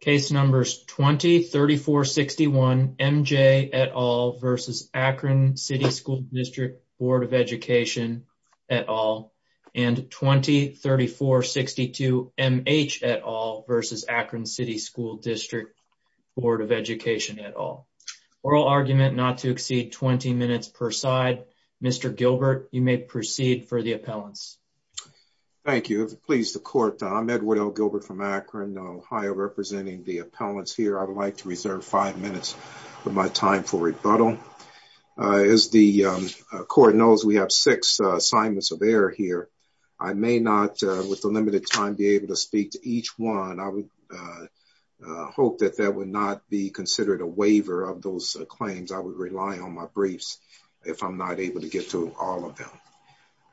Case Numbers 20-34-61, M.J. et al. v. Akron City School Dist Bd Ed et al. and 20-34-62, M.H. et al. v. Akron City School Dist Bd Ed et al. Oral argument not to exceed 20 minutes per side. Mr. Gilbert, you may proceed for the appellants. Thank you. If it pleases the court, I'm Edward L. Gilbert from Akron, Ohio, representing the appellants here. I would like to reserve five minutes of my time for rebuttal. As the court knows, we have six assignments of error here. I may not, with the limited time, be able to speak to each one. I would hope that that would not be considered a waiver of those claims. I would rely on my briefs if I'm not able to get to all of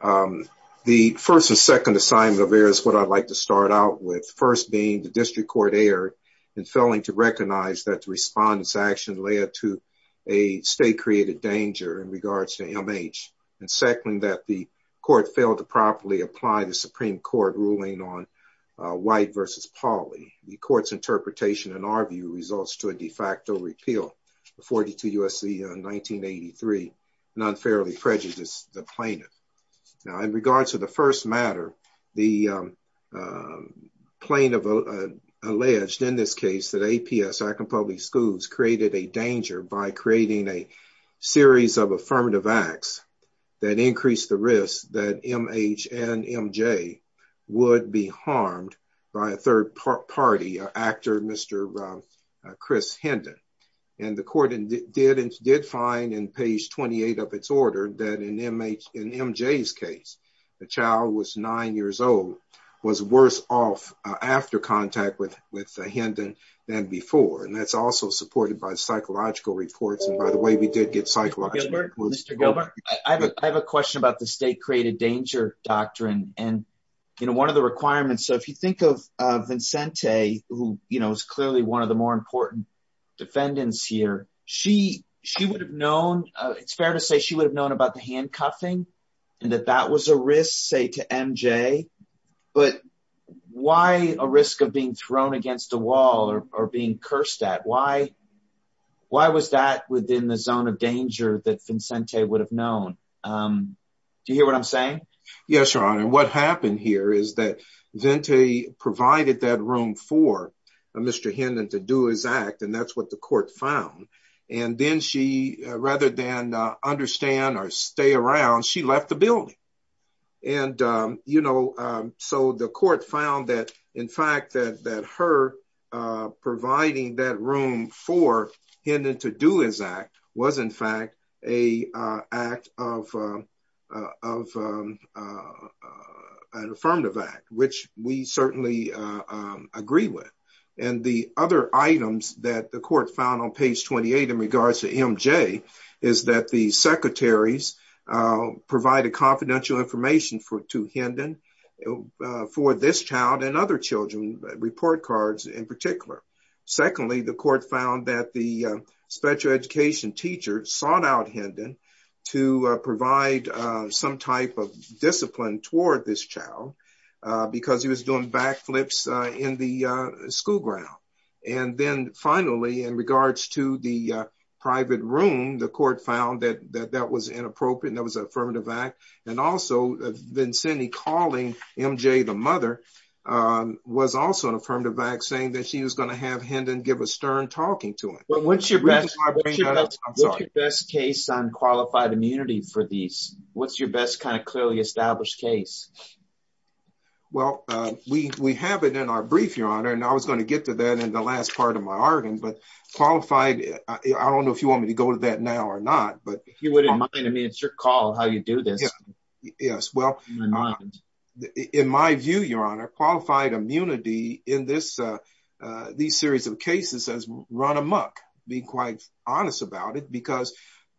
them. The first and second assignment of error is what I'd like to start out with, first being the district court error in failing to recognize that the respondent's action led to a state-created danger in regards to MH, and second, that the court failed to properly apply the Supreme Court ruling on White v. Pauley. The court's interpretation, in our view, results to a de facto repeal of 42 U.S.C. 1983, and unfairly prejudiced the plaintiff. Now, in regards to the first matter, the plaintiff alleged, in this case, that APS, Akron Public Schools, created a danger by creating a series of affirmative acts that increased the risk that MH and MJ would be harmed by a third party actor, Mr. Chris Hendon. The court did find, in page 28 of its order, that in MJ's case, the child was nine years old, was worse off after contact with Hendon than before. That's also supported by psychological reports, and by the way, we did get psychological reports. Mr. Gilbert, I have a question about the state-created danger doctrine, and one of the requirements, so if you think of Vincente, who is clearly one of the more important defendants here, it's fair to say she would have known about the handcuffing, and that that was a risk, say, to MJ, but why a risk of being within the zone of danger that Vincente would have known? Do you hear what I'm saying? Yes, Your Honor, what happened here is that Vincente provided that room for Mr. Hendon to do his act, and that's what the court found, and then she, rather than understand or stay around, she left the building, and so the court found that, in fact, that her providing that room for him to do his act was, in fact, an affirmative act, which we certainly agree with, and the other items that the court found on page 28 in regards to MJ is that the secretaries provided confidential information to Hendon for this child and other children, report cards in particular. Secondly, the court found that the special education teacher sought out Hendon to provide some type of discipline toward this child because he was doing backflips in the school ground, and then, finally, in regards to the private room, the court found that that was inappropriate, and that was an affirmative act, and also, Vincente calling MJ the mother was also an affirmative act. What's your best case on qualified immunity for these? What's your best kind of clearly established case? Well, we have it in our brief, Your Honor, and I was going to get to that in the last part of my argument, but qualified, I don't know if you want me to go to that now or not, but... If you wouldn't mind, I mean, it's your call how you do this. Yes, well, in my view, Your Honor, qualified immunity in this series of cases has run amok, being quite honest about it, because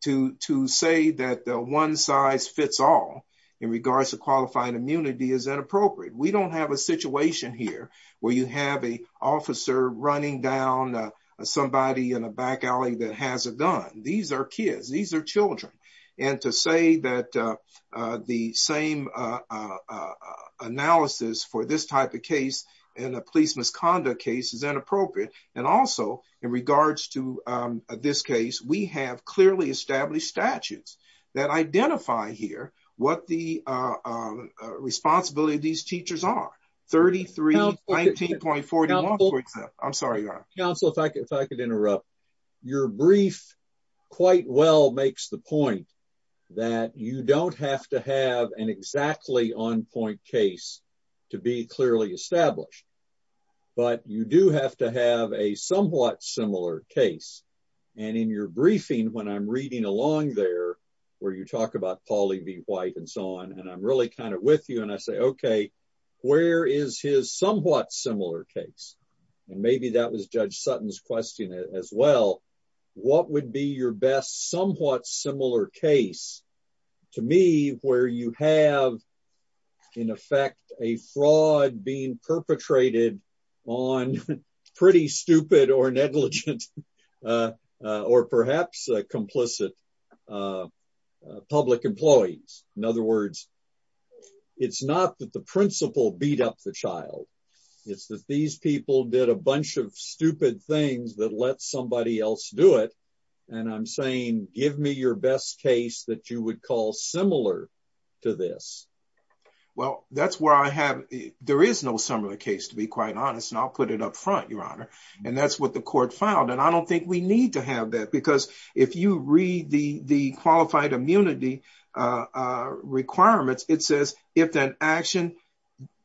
to say that the one size fits all in regards to qualified immunity is inappropriate. We don't have a situation here where you have an officer running down somebody in a back alley that has a gun. These are kids. These are children, and to say that the same analysis for this type of case in a police misconduct case is inappropriate, and also, in regards to this case, we have clearly established statutes that identify here what the responsibility of these teachers are, 3319.41, for example. I'm sorry, Your Honor. Counsel, if I could interrupt. Your brief quite well makes the point that you don't have to have an exactly on-point case to be clearly established, but you do have to have a somewhat similar case, and in your briefing, when I'm reading along there, where you talk about Paul E. B. White, and so on, and I'm really kind of with you, and I say, okay, where is his somewhat similar case? And maybe that was Judge Sutton's question as well. What would be your best somewhat similar case, to me, where you have, in effect, a fraud being perpetrated on pretty stupid or negligent or perhaps complicit public employees? In other words, it's not that the principal beat up the did a bunch of stupid things that let somebody else do it, and I'm saying, give me your best case that you would call similar to this. Well, that's where I have, there is no similar case, to be quite honest, and I'll put it up front, Your Honor, and that's what the court filed, and I don't think we need to have that, because if you read the qualified immunity requirements, it says, if an action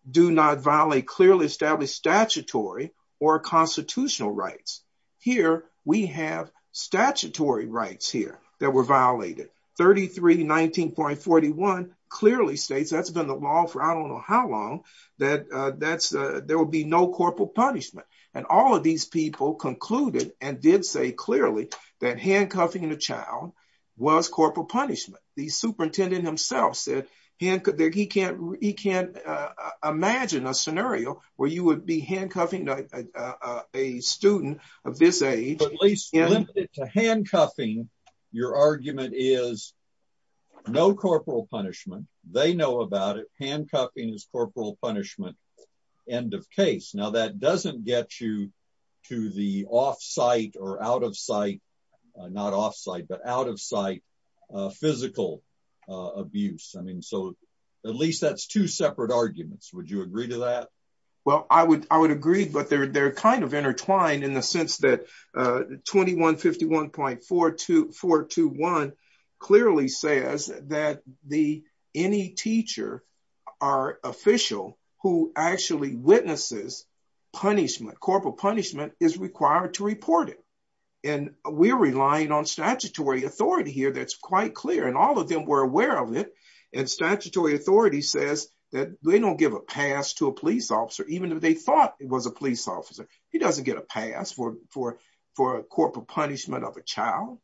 do not clearly establish statutory or constitutional rights. Here, we have statutory rights here that were violated. 3319.41 clearly states, that's been the law for I don't know how long, that there will be no corporal punishment, and all of these people concluded and did say clearly that handcuffing the child was corporal punishment. The superintendent himself said he can't imagine a scenario where you would be handcuffing a student of this age. At least limited to handcuffing, your argument is no corporal punishment. They know about it. Handcuffing is corporal punishment, end of case. Now, that doesn't get you to the off-site or at least that's two separate arguments. Would you agree to that? Well, I would agree, but they're kind of intertwined in the sense that 2151.421 clearly says that any teacher or official who actually witnesses punishment, corporal punishment, is required to report it, and we're relying on statutory authority here that's quite clear, and all of them were aware of it. Statutory authority says that they don't give a pass to a police officer, even if they thought it was a police officer. He doesn't get a pass for a corporal punishment of a child.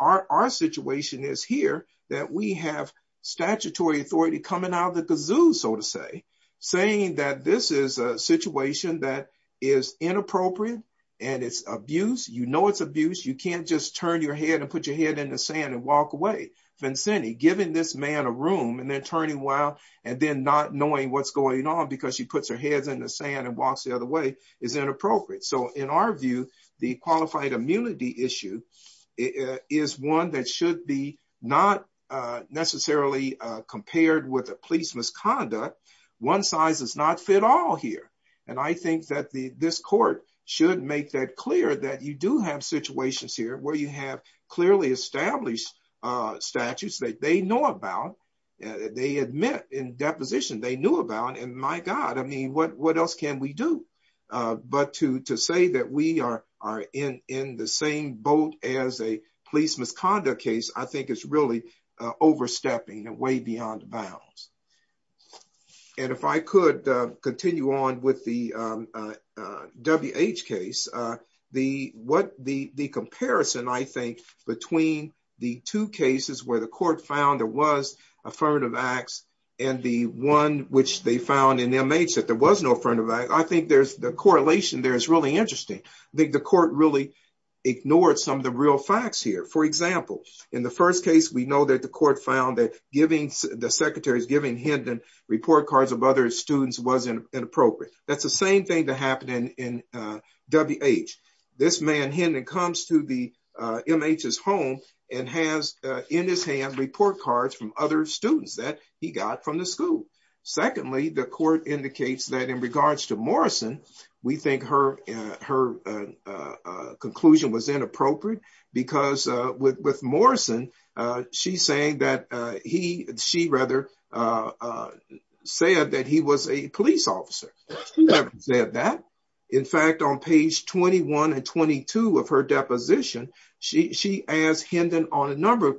Our situation is here that we have statutory authority coming out of the kazoo, so to say, saying that this is a situation that is inappropriate and it's abuse, you know it's abuse, you can't just turn your head and put your head in the sand and walk away. Vincente, giving this man a room and then turning around and then not knowing what's going on because she puts her head in the sand and walks the other way is inappropriate. So in our view, the qualified immunity issue is one that should be not necessarily compared with a police misconduct. One size does not fit all here, and I think that this court should make that clear that you do have situations here where you have clearly established statutes that they know about, they admit in deposition they knew about, and my god, what else can we do? But to say that we are in the same boat as a police misconduct case, I think it's really overstepping and way beyond bounds. And if I could continue on with the WH case, the comparison, I think, between the two cases where the court found there was affirmative acts and the one which they found in MH that there was no affirmative act, I think there's the correlation there is really interesting. I think the court really ignored some of the real facts here. For example, in the first case, we know that the court found that the secretary's giving him the report cards of other students was inappropriate. That's the same thing that in WH. This man then comes to the MH's home and has in his hand report cards from other students that he got from the school. Secondly, the court indicates that in regards to Morrison, we think her conclusion was inappropriate because with Morrison, she said that he was a police officer. She never said that. In fact, on page 21 and 22 of her deposition, she asked him then on a number of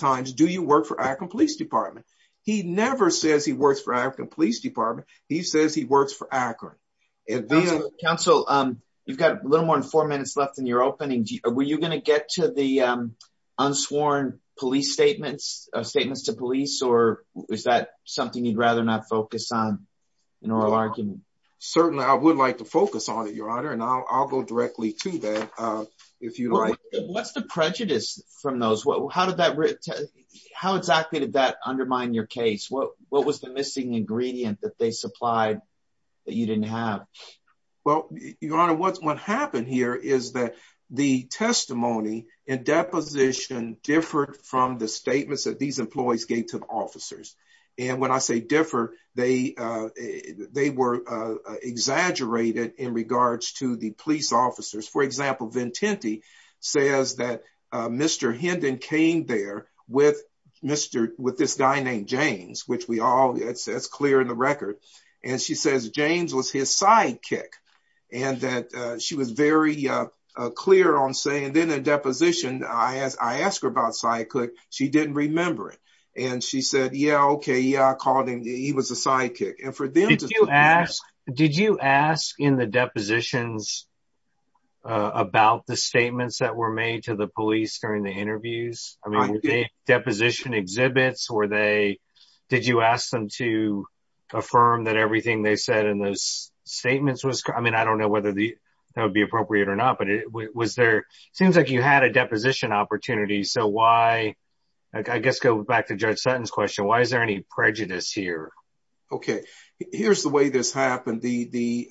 times, do you work for Akron Police Department? He never says he works for Akron Police Department. He says he works for Akron. Council, you've got a little more than four minutes left in your opening. Were you going to get to the unsworn police statements, statements to police, or is that something you'd rather not focus on in oral argument? Certainly, I would like to focus on it, Your Honor, and I'll go directly to that if you like. What's the prejudice from those? How did that, how exactly did that undermine your case? What was the missing ingredient that they supplied that you didn't have? Well, Your Honor, what happened here is that the testimony and deposition differed from the statements that these employees gave to the officers. And when I say differ, they were exaggerated in regards to the police officers. For example, Vincente says that Mr. Hendon came there with this guy named James, which we all, that's clear in the record. And she says James was his sidekick and that she was very clear on saying, then a deposition, I asked her about sidekick, she didn't remember it. And she said, yeah, okay, yeah, I called him, he was a sidekick. And for them to- Did you ask, did you ask in the depositions about the statements that were made to the police during the interviews? I mean, were they deposition exhibits or they, did you ask them to affirm that everything they said in those statements was, I mean, I don't know whether that would appropriate or not, but was there, seems like you had a deposition opportunity. So why, I guess, go back to Judge Sutton's question, why is there any prejudice here? Okay. Here's the way this happened. The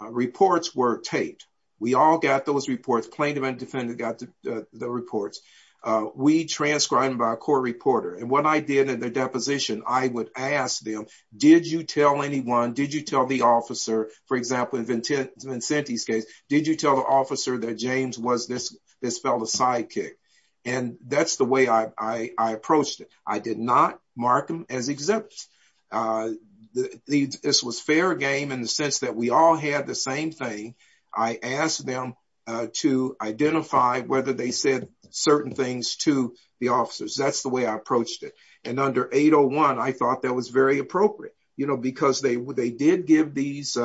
reports were taped. We all got those reports, plaintiff and defendant got the reports. We transcribed by a court reporter. And what I did in the deposition, I would ask them, did you tell anyone, did you tell the officer, for example, in Vincenti's case, did you tell the officer that James was this fellow's sidekick? And that's the way I approached it. I did not mark them as exhibits. This was fair game in the sense that we all had the same thing. I asked them to identify whether they said certain things to the officers. That's the way I approached it. And under 801, I thought that was very appropriate because they did give these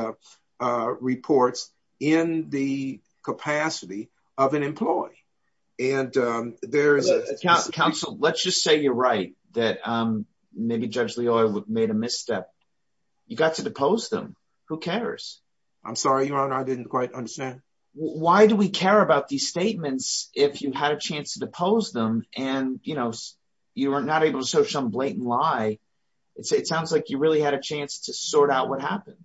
reports in the capacity of an employee. Counsel, let's just say you're right that maybe Judge Leoy made a misstep. You got to depose them. Who cares? I'm sorry, Your Honor. I didn't quite understand. Why do we care about these statements if you had a chance to depose them and you were not able to identify? It sounds like you really had a chance to sort out what happened.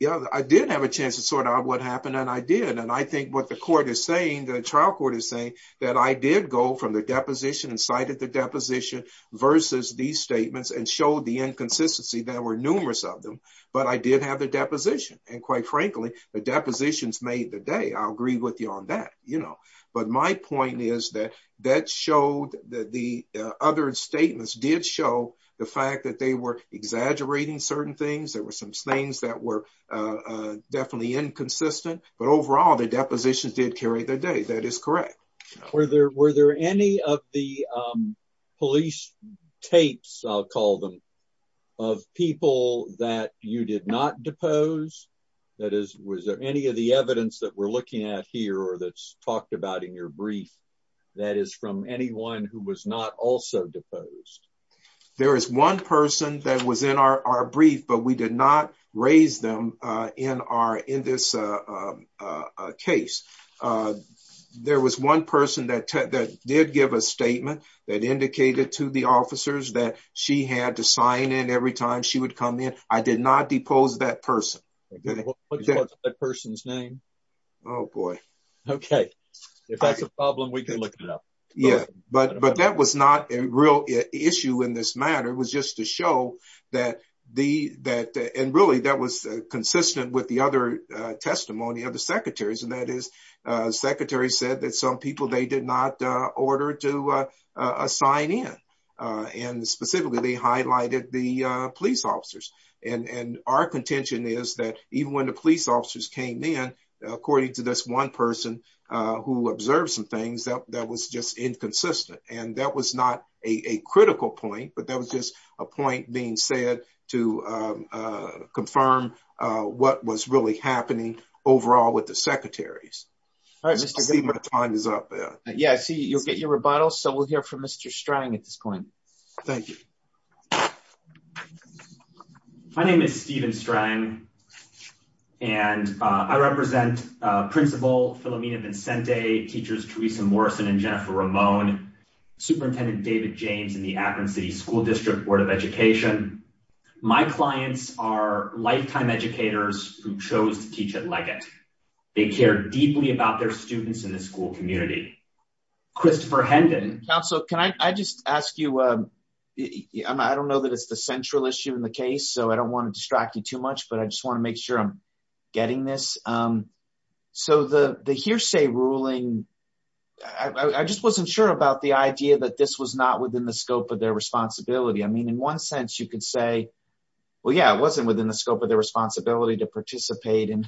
Yeah, I did have a chance to sort out what happened and I did. And I think what the court is saying, the trial court is saying, that I did go from the deposition and cited the deposition versus these statements and showed the inconsistency. There were numerous of them, but I did have the deposition. And quite frankly, the depositions made the day. I'll agree with you that. But my point is that the other statements did show the fact that they were exaggerating certain things. There were some things that were definitely inconsistent. But overall, the depositions did carry the day. That is correct. Were there any of the police tapes, I'll call them, of people that you did not depose? Was there any of the evidence that we're looking at here or that's talked about in your brief that is from anyone who was not also deposed? There is one person that was in our brief, but we did not raise them in this case. There was one person that did give a statement that indicated to the officers that she had to sign in every time she would come in. I did not depose that person. What's that person's name? Oh, boy. Okay. If that's a problem, we can look it up. Yeah. But that was not a real issue in this matter. It was just to show that, and really, that was consistent with the other testimony of the secretaries. And that is, the secretary said that some people they did not order to sign in. And specifically, they highlighted the police according to this one person who observed some things that was just inconsistent. And that was not a critical point, but that was just a point being said to confirm what was really happening overall with the secretaries. Steven, your time is up there. Yeah. See, you'll get your rebuttal. So we'll hear from Mr. Strang at this point. Thank you. My name is Steven Strang, and I represent Principal Philomena Vincente, Teachers Teresa Morrison and Jennifer Ramon, Superintendent David James in the Akron City School District Board of Education. My clients are lifetime educators who chose to teach at Leggett. They care deeply about their students in the school community. Christopher Hendon- I just ask you, I don't know that it's the central issue in the case, so I don't want to distract you too much, but I just want to make sure I'm getting this. So the hearsay ruling, I just wasn't sure about the idea that this was not within the scope of their responsibility. I mean, in one sense, you could say, well, yeah, it wasn't within the scope of their responsibility to participate in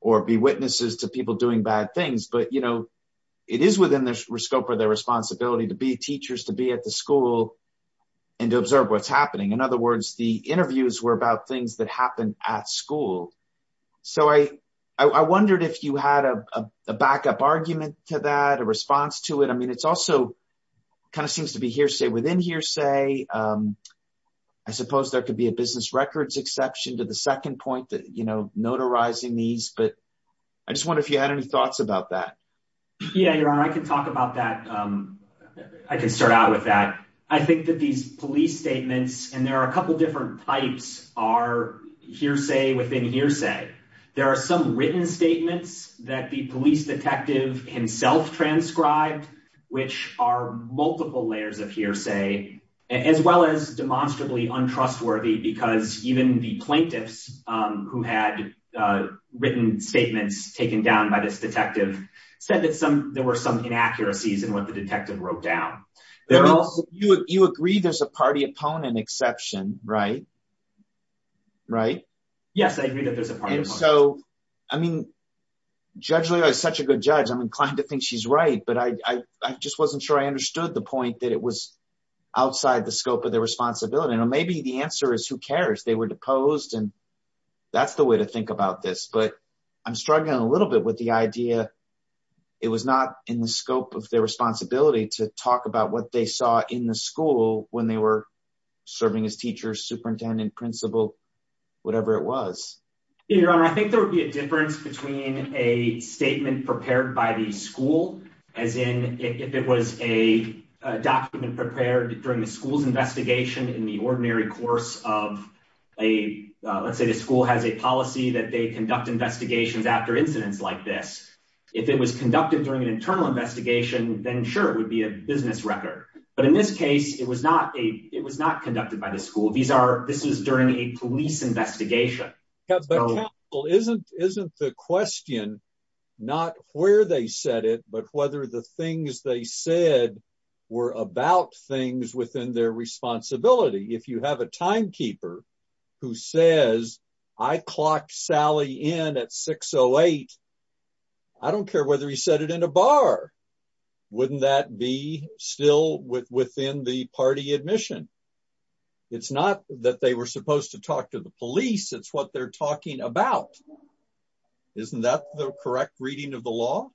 or be witnesses to people doing bad things. But it is within the scope of their responsibility to be teachers, to be at the school and to observe what's happening. In other words, the interviews were about things that happened at school. So I wondered if you had a backup argument to that, a response to it. I mean, it's also kind of seems to be hearsay within hearsay. I suppose there could be a business records exception to the second point that, you know, notarizing these, but I just wonder if you had any thoughts about that. Yeah, Your Honor, I can talk about that. I can start out with that. I think that these police statements, and there are a couple different types, are hearsay within hearsay. There are some written statements that the police detective himself transcribed, which are multiple layers of hearsay, as well as demonstrably untrustworthy because even the plaintiffs who had written statements taken down by this detective said that there were some inaccuracies in what the detective wrote down. You agree there's a party opponent exception, right? Right? Yes, I agree that there's a party. And so, I mean, Judge Leo is such a good judge, I'm inclined to think she's right, but I just wasn't sure I understood the point that it was outside the scope of their responsibility. And maybe the answer is, who cares? They were deposed and that's the way to think about this. But I'm struggling a little bit with the idea it was not in the scope of their responsibility to talk about what they saw in the school when they were serving as teachers, superintendent, principal, whatever it was. Yeah, Your Honor, I think there would be a difference between a statement prepared by the school, as in if it was a document prepared during the school's investigation in the ordinary course of a, let's say the school has a policy that they conduct investigations after incidents like this. If it was conducted during an internal investigation, then sure, it would be a business record. But in this case, it was not conducted by the school. This was during a police investigation. Isn't the question not where they said it, but whether the things they said were about things within their responsibility. If you have a timekeeper who says, I clocked Sally in at 608, I don't care whether he said it in a bar, wouldn't that be still within the party admission? It's not that they were supposed to talk to the police. It's what they're talking about. Isn't that the correct reading of the law?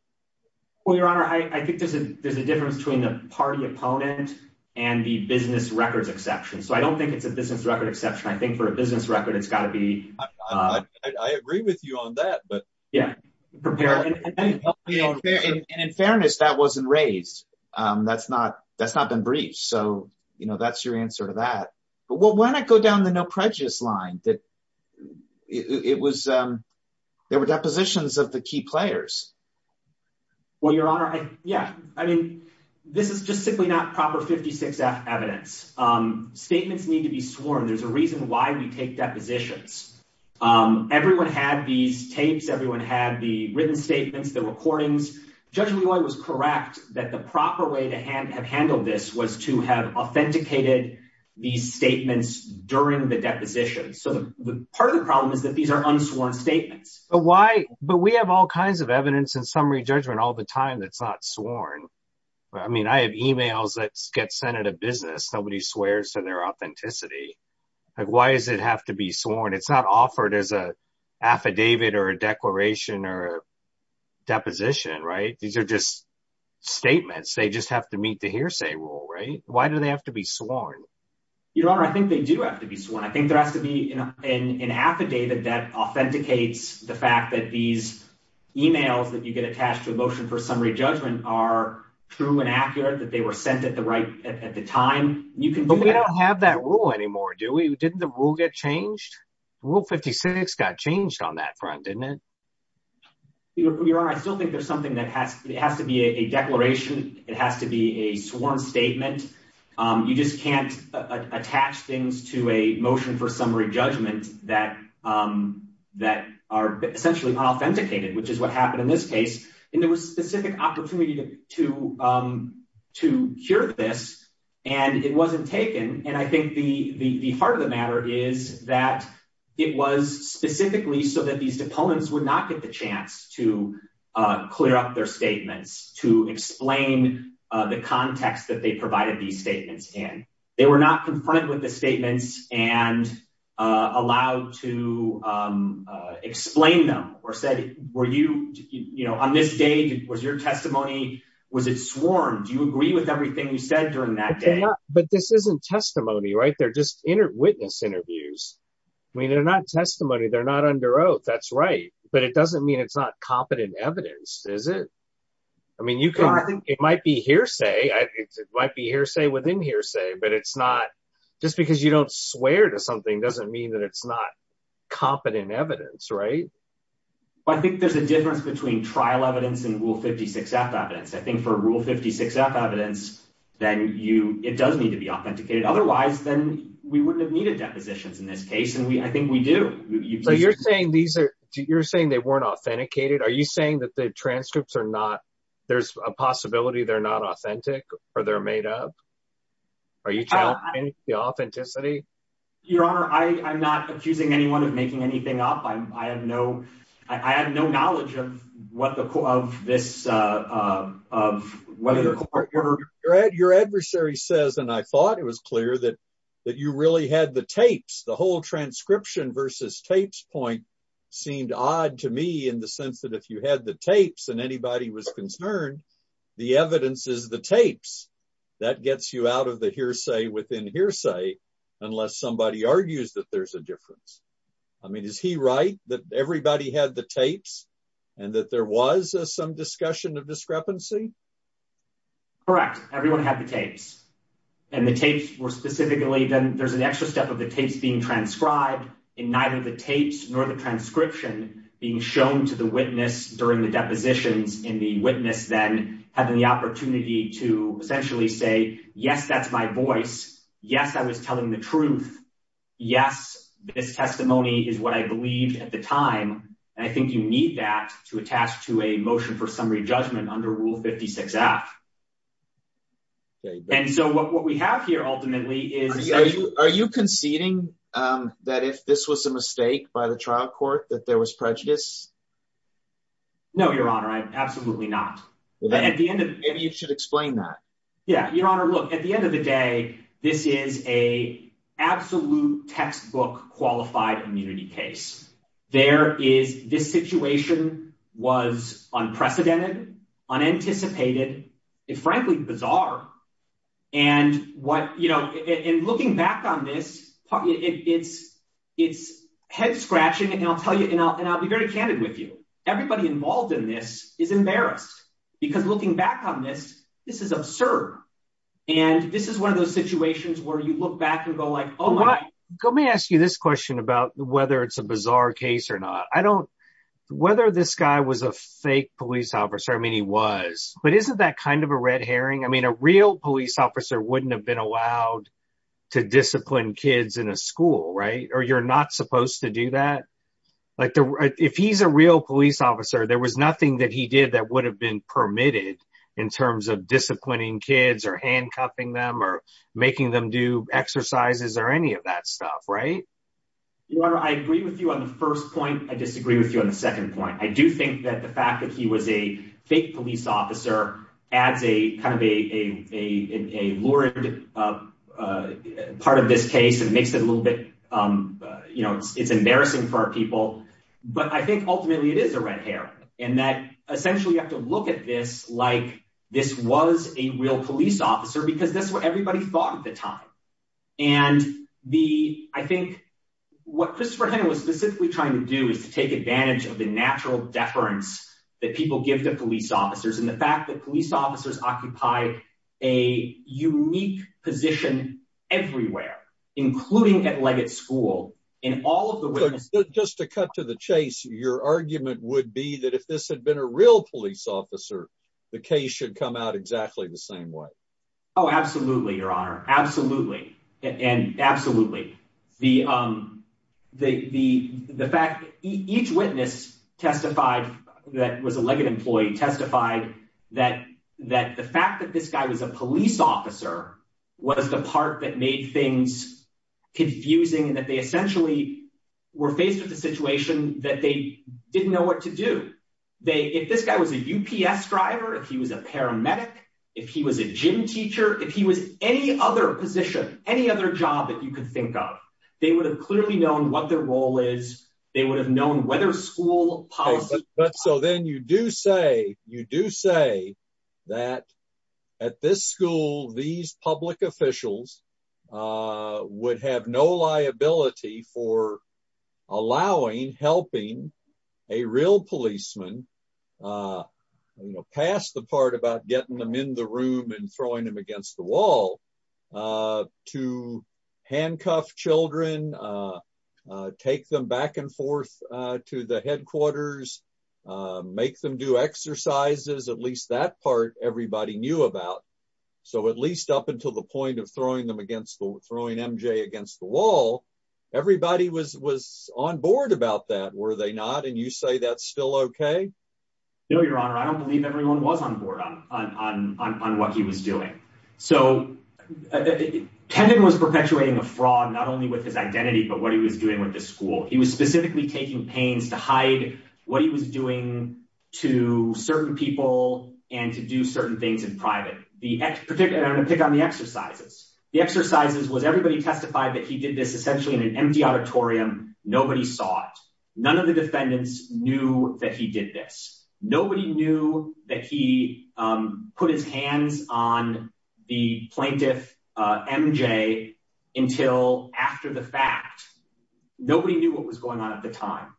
Well, Your Honor, I think there's a difference between the party opponent and the business records exception. So I don't think it's a business record exception. I think for a business record, it's got to be. I agree with you on that, but yeah. And in fairness, that wasn't raised. That's not that's not been briefed. So, you know, that's your answer to that. But when I go down the no prejudice line that it was, there were depositions of the key players. Well, Your Honor, yeah. I mean, this is just simply not proper 56 F evidence. Statements need to be sworn. There's a reason why we take depositions. Everyone had these tapes. Everyone had the written statements, the recordings. Judge Loy was correct that the proper way to have handled this was to have authenticated these statements during the deposition. So part of the problem is that these are unsworn statements. But we have all kinds of evidence and summary judgment all the time that's not sworn. I mean, I have emails that get sent out of business. Nobody swears to their authenticity. Why does it have to be sworn? It's not offered as a affidavit or a declaration or a deposition, right? These are just statements. They just have to meet the hearsay rule, right? Why do they have to be sworn? Your Honor, I think they do have to be sworn. I think there has to be an affidavit that authenticates the fact that these emails that you get attached to a motion for summary judgment are true and accurate, that they were sent at the right at the time. But we don't have that rule anymore, do we? Didn't the rule get changed? Rule 56 got changed on that front, didn't it? Your Honor, I still think there's something that has to be a declaration. It has to be a sworn statement. You just can't attach things to a motion for summary judgment that are essentially unauthenticated, which is what happened in this case. And there was specific opportunity to cure this, and it wasn't taken. And I think the heart of the matter is that it was specifically so that these opponents would not get the chance to clear up their statements, to explain the context that they provided these statements in. They were not confronted with the statements and allowed to explain them or said, were you, you know, on this day, was your testimony, was it sworn? Do you agree with everything you said during that day? But this isn't testimony, right? They're just witness interviews. I mean, they're not testimony. They're not under oath. That's right. But it doesn't mean it's not competent evidence, is it? I mean, you can, I think it might be hearsay. It might be hearsay within hearsay, but it's not just because you don't swear to something doesn't mean that it's not competent evidence, right? Well, I think there's a difference between trial evidence and rule 56 F evidence. I think for rule 56 F evidence, then you, it does need to be authenticated. Otherwise, then we wouldn't have depositions in this case. And we, I think we do. So you're saying these are, you're saying they weren't authenticated. Are you saying that the transcripts are not, there's a possibility they're not authentic or they're made up? Are you challenging the authenticity? Your honor, I, I'm not accusing anyone of making anything up. I'm, I have no, I have no knowledge of what the, of this, uh, of whether the court. Your adversary says, and I thought it was clear that, that you really had the tapes, the whole transcription versus tapes point seemed odd to me in the sense that if you had the tapes and anybody was concerned, the evidence is the tapes that gets you out of the hearsay within hearsay, unless somebody argues that there's a difference. I mean, is he right? That everybody had the tapes and that there was some discussion of discrepancy. Correct. Everyone had the tapes and the tapes were specifically, then there's an extra step of the tapes being transcribed in neither the tapes nor the transcription being shown to the witness during the depositions in the witness, then having the opportunity to essentially say, yes, that's my voice. Yes. I was telling the truth. Yes. This testimony is what I believed at the time. And I think you need that to attach to a motion for summary judgment under rule 56 F. And so what we have here ultimately is, are you conceding, um, that if this was a mistake by the trial court, that there was prejudice? No, your honor. I absolutely not. At the end of it, maybe you should explain that. Yeah. Your honor. Look at the end of the day, this is a absolute textbook qualified immunity case. There is this situation was unprecedented, unanticipated, frankly, bizarre. And what, you know, and looking back on this, it's, it's head scratching and I'll tell you, and I'll, and I'll be very candid with you. Everybody involved in this is embarrassed because looking back on this, this is absurd. And this is one of those situations where you look back and go like, Oh, let me ask you this question about whether it's a bizarre case or not. I don't, whether this guy was a fake police officer. I mean, he was, but isn't that kind of a red Herring? I mean, a real police officer wouldn't have been allowed to discipline kids in a school, right. Or you're not supposed to do that. Like if he's a real police officer, there was nothing that he did that would have been permitted in terms of disciplining kids or handcuffing them or making them do exercises or any of that stuff. Right. Your honor. I agree with you on the first point. I disagree with you on the second point. I do think that the fact that he was a fake police officer adds a kind of a, a, a, a Lord of part of this case. It makes it a But I think ultimately it is a red hair and that essentially you have to look at this, like this was a real police officer because that's what everybody thought at the time. And the, I think what Christopher Hennon was specifically trying to do is to take advantage of the natural deference that people give to police officers. And the fact that police officers occupy a unique position everywhere, including at Leggett school in all of the way. Just to cut to the chase, your argument would be that if this had been a real police officer, the case should come out exactly the same way. Oh, absolutely. Your honor. Absolutely. And absolutely. The, um, the, the, the fact each witness testified that was a Leggett employee testified that, that the fact that this guy was a police officer was the part that made things confusing and that they essentially were faced with a situation that they didn't know what to do. They, if this guy was a UPS driver, if he was a paramedic, if he was a gym teacher, if he was any other position, any other job that you could think of, they would have clearly known what their role is. They would have known whether school policy. So then you do say, you do say that at this school, these public officials, uh, would have no liability for allowing, helping a real policeman, uh, you know, pass the part about getting them in the room and throwing them against the wall, uh, to handcuff children, uh, uh, take them back and forth, uh, to the everybody knew about. So at least up until the point of throwing them against the throwing MJ against the wall, everybody was, was on board about that. Were they not? And you say that's still okay. No, your honor. I don't believe everyone was on board on, on, on, on, on what he was doing. So it was perpetuating a fraud, not only with his identity, but what he was doing with the school. He was specifically taking pains to hide what he was doing to certain people and to do certain things in private. The particular, I'm going to pick on the exercises. The exercises was everybody testified that he did this essentially in an empty auditorium. Nobody saw it. None of the defendants knew that he did this. Nobody knew that he, um, put his hands on the plaintiff, uh, MJ until after the fact, nobody knew what was going on at the time.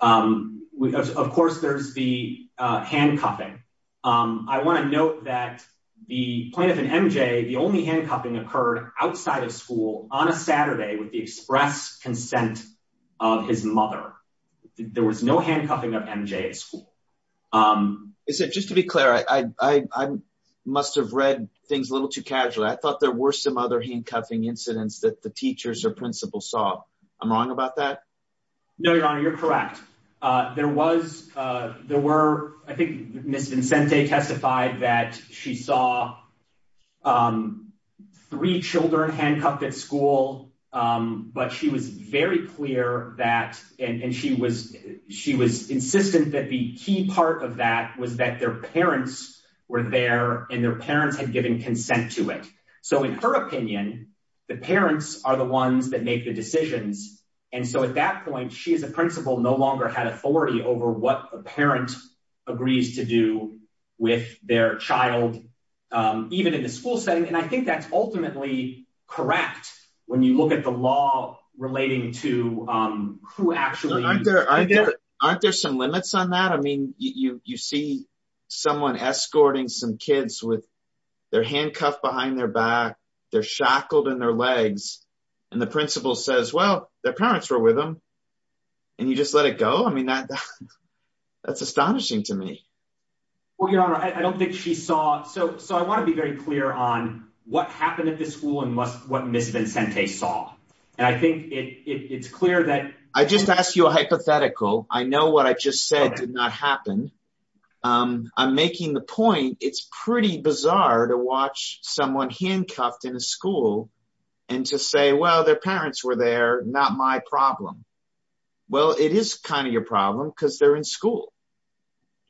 Um, of course there's the, uh, handcuffing. Um, I want to note that the plaintiff and MJ, the only handcuffing occurred outside of school on a Saturday with the express consent of his mother, there was no handcuffing of MJ at school. Um, is it just to be clear? I, I, I must've read things a little too casually. I thought there were some other handcuffing incidents that the there was, uh, there were, I think Ms. Vincente testified that she saw, um, three children handcuffed at school. Um, but she was very clear that, and she was, she was insistent that the key part of that was that their parents were there and their parents had given consent to it. So in her opinion, the parents are the ones that make the decisions. And so at that point, she, as a principal no longer had authority over what a parent agrees to do with their child. Um, even in the school setting. And I think that's ultimately correct. When you look at the law relating to, um, who actually aren't there, aren't there some limits on that? I mean, you, you, you see someone escorting some kids with their handcuff behind their back, they're shackled in their legs and the principal says, well, their parents were with them and you just let it go. I mean, that, that's astonishing to me. Well, your honor, I don't think she saw. So, so I want to be very clear on what happened at this school and what Ms. Vincente saw. And I think it's clear that I just asked you a hypothetical. I know what I just said did not happen. Um, I'm making the and to say, well, their parents were there, not my problem. Well, it is kind of your problem because they're in school.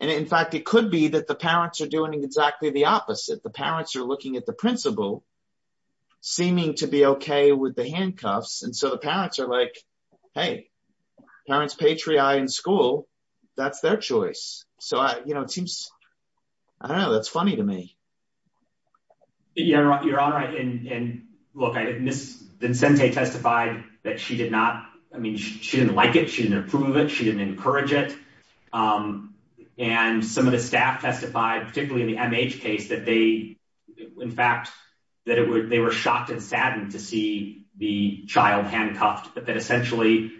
And in fact, it could be that the parents are doing exactly the opposite. The parents are looking at the principal seeming to be okay with the handcuffs. And so the parents are like, Hey, parents, Patriot in school, that's their choice. So I, you know, it seems, I don't Vincente testified that she did not. I mean, she didn't like it. She didn't approve of it. She didn't encourage it. Um, and some of the staff testified, particularly in the MH case that they, in fact, that it would, they were shocked and saddened to see the child handcuffed, but that essentially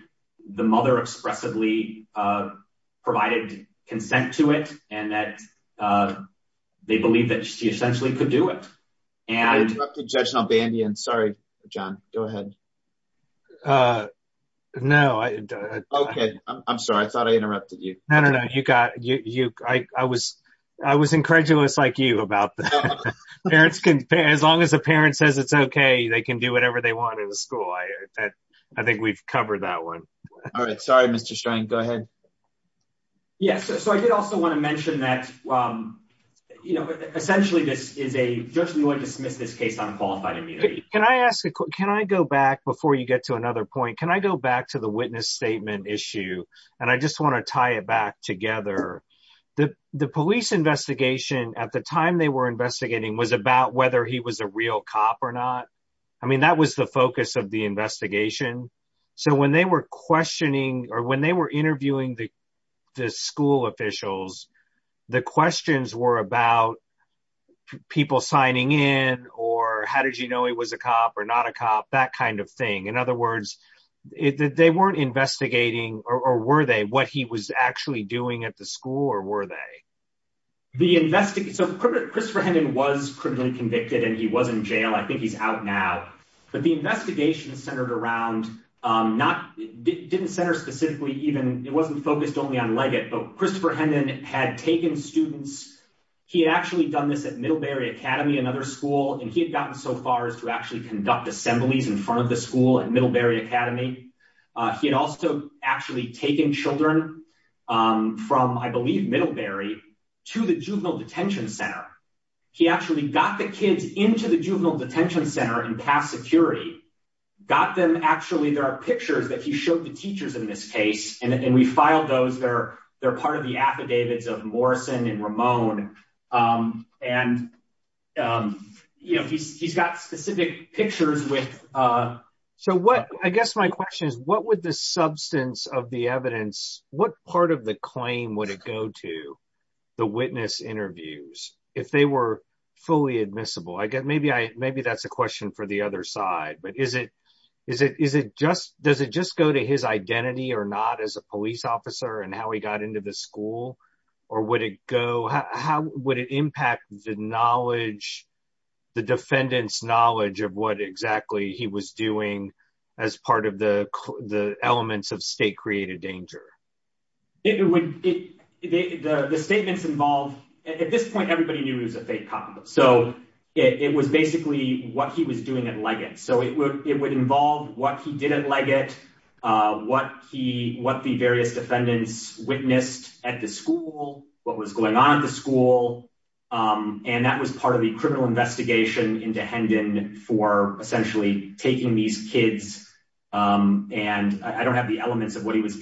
the mother expressively, uh, provided consent to it. And that, uh, they believe that she essentially could do it. And sorry, John, go ahead. Uh, no, I, I'm sorry. I thought I interrupted you. No, no, no. You got you. I, I was, I was incredulous like you about the parents can pay as long as the parent says it's okay. They can do whatever they want in the school. I, I think we've covered that one. All right. Sorry, Mr. Stein. Go ahead. Yes. So I did also want to mention that, um, you know, essentially this is a judge who would dismiss this case on qualified immunity. Can I ask a quick, can I go back before you get to another point? Can I go back to the witness statement issue? And I just want to tie it back together. The, the police investigation at the time they were investigating was about whether he was a real cop or not. I mean, that was the focus of the investigation. So when they were questioning or when they were asking questions were about people signing in or how did you know he was a cop or not a cop, that kind of thing. In other words, it, that they weren't investigating or were they, what he was actually doing at the school or were they. The investigation. So Christopher Hendon was criminally convicted and he was in jail. I think he's out now, but the investigation centered around, um, not didn't center specifically. It wasn't focused only on Leggett, but Christopher Hendon had taken students. He had actually done this at Middlebury Academy, another school. And he had gotten so far as to actually conduct assemblies in front of the school at Middlebury Academy. Uh, he had also actually taken children, um, from, I believe Middlebury to the juvenile detention center. He actually got the kids into the juvenile detention center and pass security, got them. Actually, there are pictures that he showed the teachers in this case. And we filed those. They're, they're part of the affidavits of Morrison and Ramon. Um, and, um, you know, he's, he's got specific pictures with, uh. So what, I guess my question is, what would the substance of the evidence, what part of the claim would it go to the witness interviews if they were fully admissible? I guess maybe I, for the other side, but is it, is it, is it just, does it just go to his identity or not as a police officer and how he got into the school or would it go? How would it impact the knowledge, the defendant's knowledge of what exactly he was doing as part of the, the elements of state created danger? It would, it, the, the statements involved at this point, everybody knew he was a fake cop. So it was basically what he was doing at Leggett. So it would, it would involve what he did at Leggett, uh, what he, what the various defendants witnessed at the school, what was going on at the school. Um, and that was part of the criminal investigation into Hendon for essentially taking these kids. Um, and I don't have the elements of what he was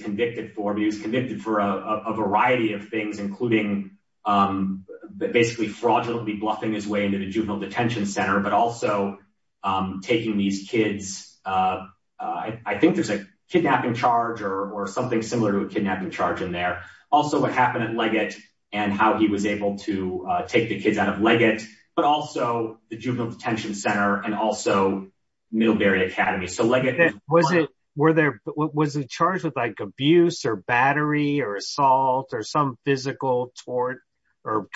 fraudulently bluffing his way into the juvenile detention center, but also, um, taking these kids, uh, uh, I think there's a kidnapping charge or, or something similar to a kidnapping charge in there. Also what happened at Leggett and how he was able to take the kids out of Leggett, but also the juvenile detention center and also Middlebury Academy. So Leggett was it, were there, was it charged with like abuse or battery or assault or some physical tort or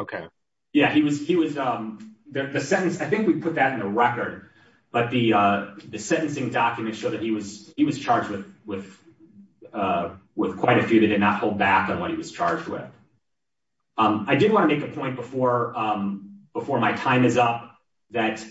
okay. Yeah, he was, he was, um, the, the sentence, I think we put that in the record, but the, uh, the sentencing documents show that he was, he was charged with, with, uh, with quite a few that did not hold back on what he was charged with. Um, I did want to make a point before, um, before my time is up that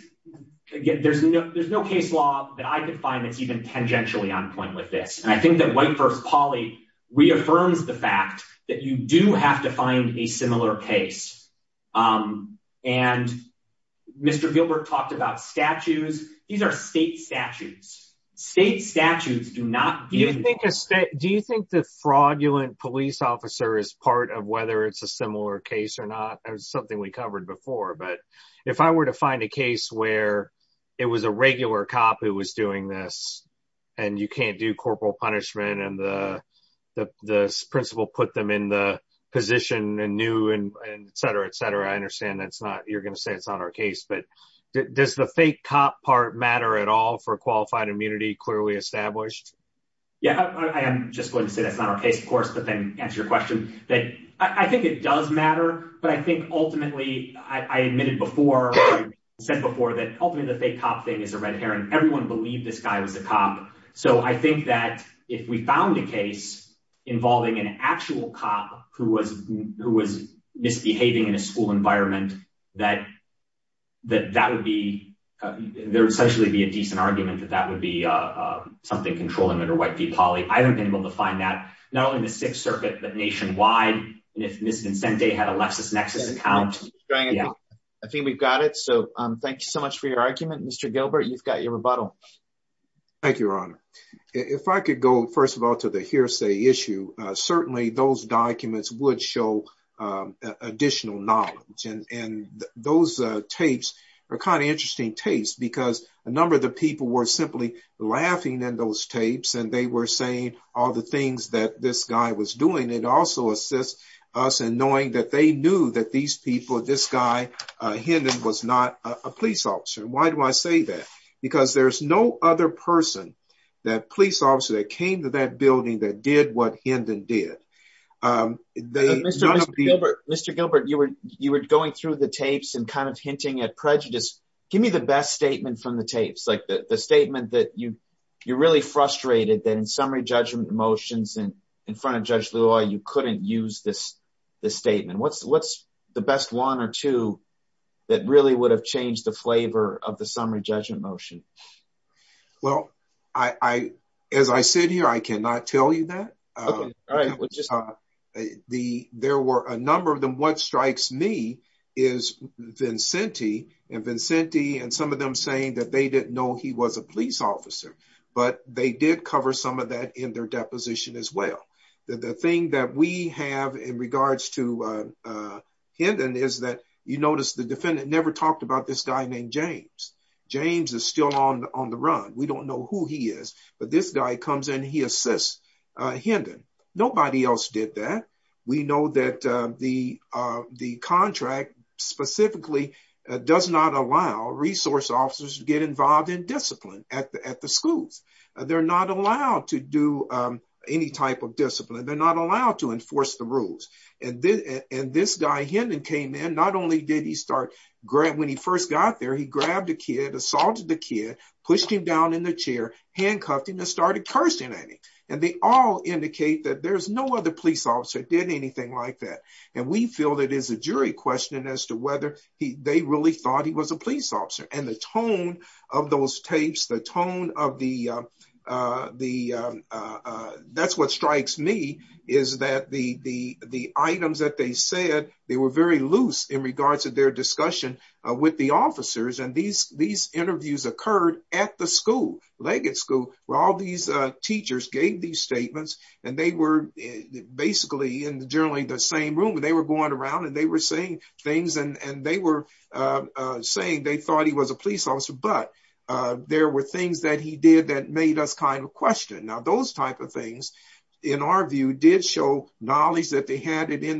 again, there's no, there's no case law that I could find that's even tangentially on point with this. And I think that white first poly reaffirms the fact that you do have to find a similar case. Um, and Mr. Gilbert talked about statutes. These are state statutes. State statutes do not. Do you think a state, do you think the fraudulent police officer is part of whether it's a similar case or not? Or something we covered before. But if I were to find a case where it was a regular cop who was doing this and you can't do in the position and new and et cetera, et cetera, I understand that's not, you're going to say it's not our case, but does the fake cop part matter at all for qualified immunity? Clearly established. Yeah. I am just going to say that's not our case, of course, but then answer your question that I think it does matter. But I think ultimately I admitted before I said before that ultimately the fake cop thing is a red Herring. Everyone believed this guy was a cop. So I think that if we found a case involving an actual cop who was, who was misbehaving in a school environment, that, that, that would be, there would essentially be a decent argument that that would be, uh, uh, something controlling it or white V poly. I haven't been able to find that not only in the sixth circuit, but nationwide. And if Ms. Consente had a LexisNexis account. I think we've got it. So, um, thank you so much for your argument, Mr. Gilbert, you've got your rebuttal. Thank you, Your Honor. If I could go first of all, to the hearsay issue, certainly those documents would show, um, additional knowledge. And, and those, uh, tapes are kind of interesting tastes because a number of the people were simply laughing in those tapes and they were saying all the things that this guy was doing. It also assists us in knowing that they knew that these people, this guy, uh, Hinden was not a police officer. Why do I say that? Because there's no other person that police officer that came to that building that did what Hinden did. Um, Mr. Gilbert, Mr. Gilbert, you were, you were going through the tapes and kind of hinting at prejudice. Give me the best statement from the tapes, like the statement that you, you're really frustrated that in summary judgment motions and in front of Judge Lula, you couldn't use this, this statement. What's, what's the best one or two that really would have changed the flavor of the summary judgment motion? Well, I, I, as I sit here, I cannot tell you that, uh, the, there were a number of them. What strikes me is Vincenti and Vincenti and some of them saying that they didn't know he was a police officer, but they did cover some of that in their deposition as well. The thing that we have in regards to, uh, Hinden is that you notice the defendant never talked about this guy named James. James is still on the, on the run. We don't know who he is, but this guy comes in and he assists, uh, Hinden. Nobody else did that. We know that, uh, the, uh, the contract specifically does not allow resource officers to get involved in discipline at the, at the schools. They're not allowed to do, um, any type of discipline. They're not allowed to enforce the rules. And then, and this guy Hinden came in, not only did he start grab, when he first got there, he grabbed a kid, assaulted the kid, pushed him down in the chair, handcuffed him and started cursing at him. And they all indicate that there's no other police officer that did anything like that. And we feel that is a jury question as to whether he, they really thought he was a police officer. But, uh, there were things that he did that made us kind of question. Now those type of in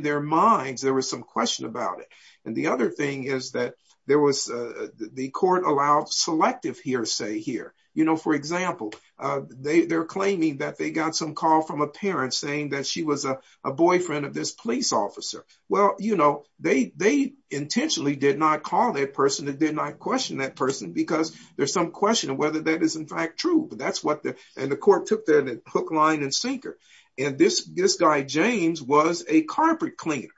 their minds, there was some question about it. And the other thing is that there was, uh, the court allowed selective hearsay here. You know, for example, uh, they, they're claiming that they got some call from a parent saying that she was a, a boyfriend of this police officer. Well, you know, they, they intentionally did not call that person that did not question that person because there's some question of whether that is in fact true, but that's what the, and the court took that hook, line and sinker. And this, this guy, James was a carpet cleaner.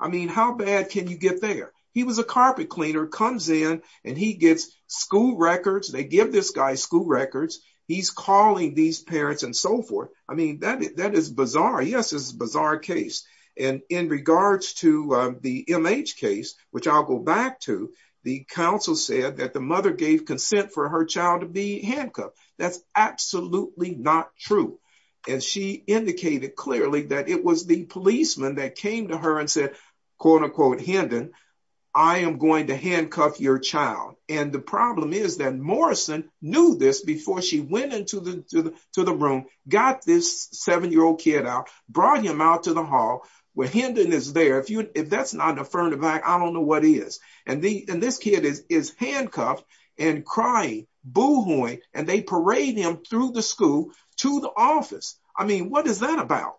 I mean, how bad can you get there? He was a carpet cleaner comes in and he gets school records. They give this guy school records. He's calling these parents and so forth. I mean, that, that is bizarre. Yes. This is a bizarre case. And in regards to the MH case, which I'll go back to the council said that the mother gave consent for her child to be handcuffed. That's absolutely not true. And she indicated clearly that it was the policeman that came to her and said, quote unquote, Hinden, I am going to handcuff your child. And the problem is that Morrison knew this before she went into the, to the, to the room, got this seven year old kid out, brought him out to the hall where Hinden is there. If you, if that's not an affirmative act, I don't know what he is. And the, and this kid is, is handcuffed and crying, boo-hooing, and they parade him through the school to the office. I mean, what is that about?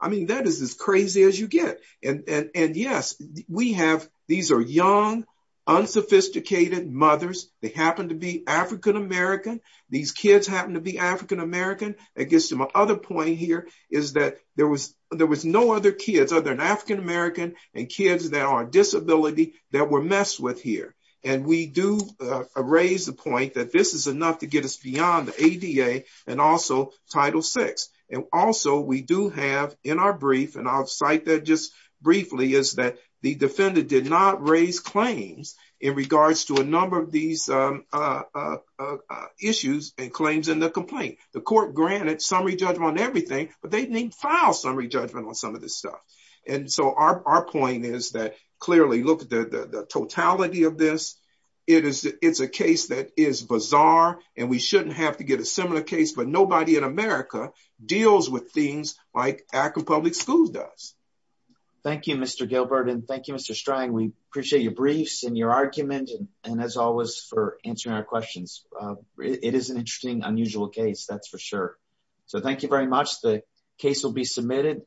I mean, that is as crazy as you get. And, and, and yes, we have, these are young, unsophisticated mothers. They happen to be African-American. These kids happen to be African-American. I guess my other point here is that there was, there was no other kids other than African-American and kids that are on disability that were messed with here. And we do raise the point that this is enough to get us beyond the ADA and also Title VI. And also we do have in our brief, and I'll cite that just briefly, is that the defendant did not raise claims in regards to a number of these issues and claims in the complaint. The court granted summary judgment on everything, but they didn't even file summary judgment on some of this stuff. And so our point is that clearly look at the totality of this. It is, it's a case that is bizarre and we shouldn't have to get a similar case, but nobody in America deals with things like Akron Public Schools does. Thank you, Mr. Gilbert. And thank you, Mr. Strang. We appreciate your briefs and your argument. And as always for answering our questions, it is an interesting, unusual case, that's for sure. So thank you very much. The case will be submitted.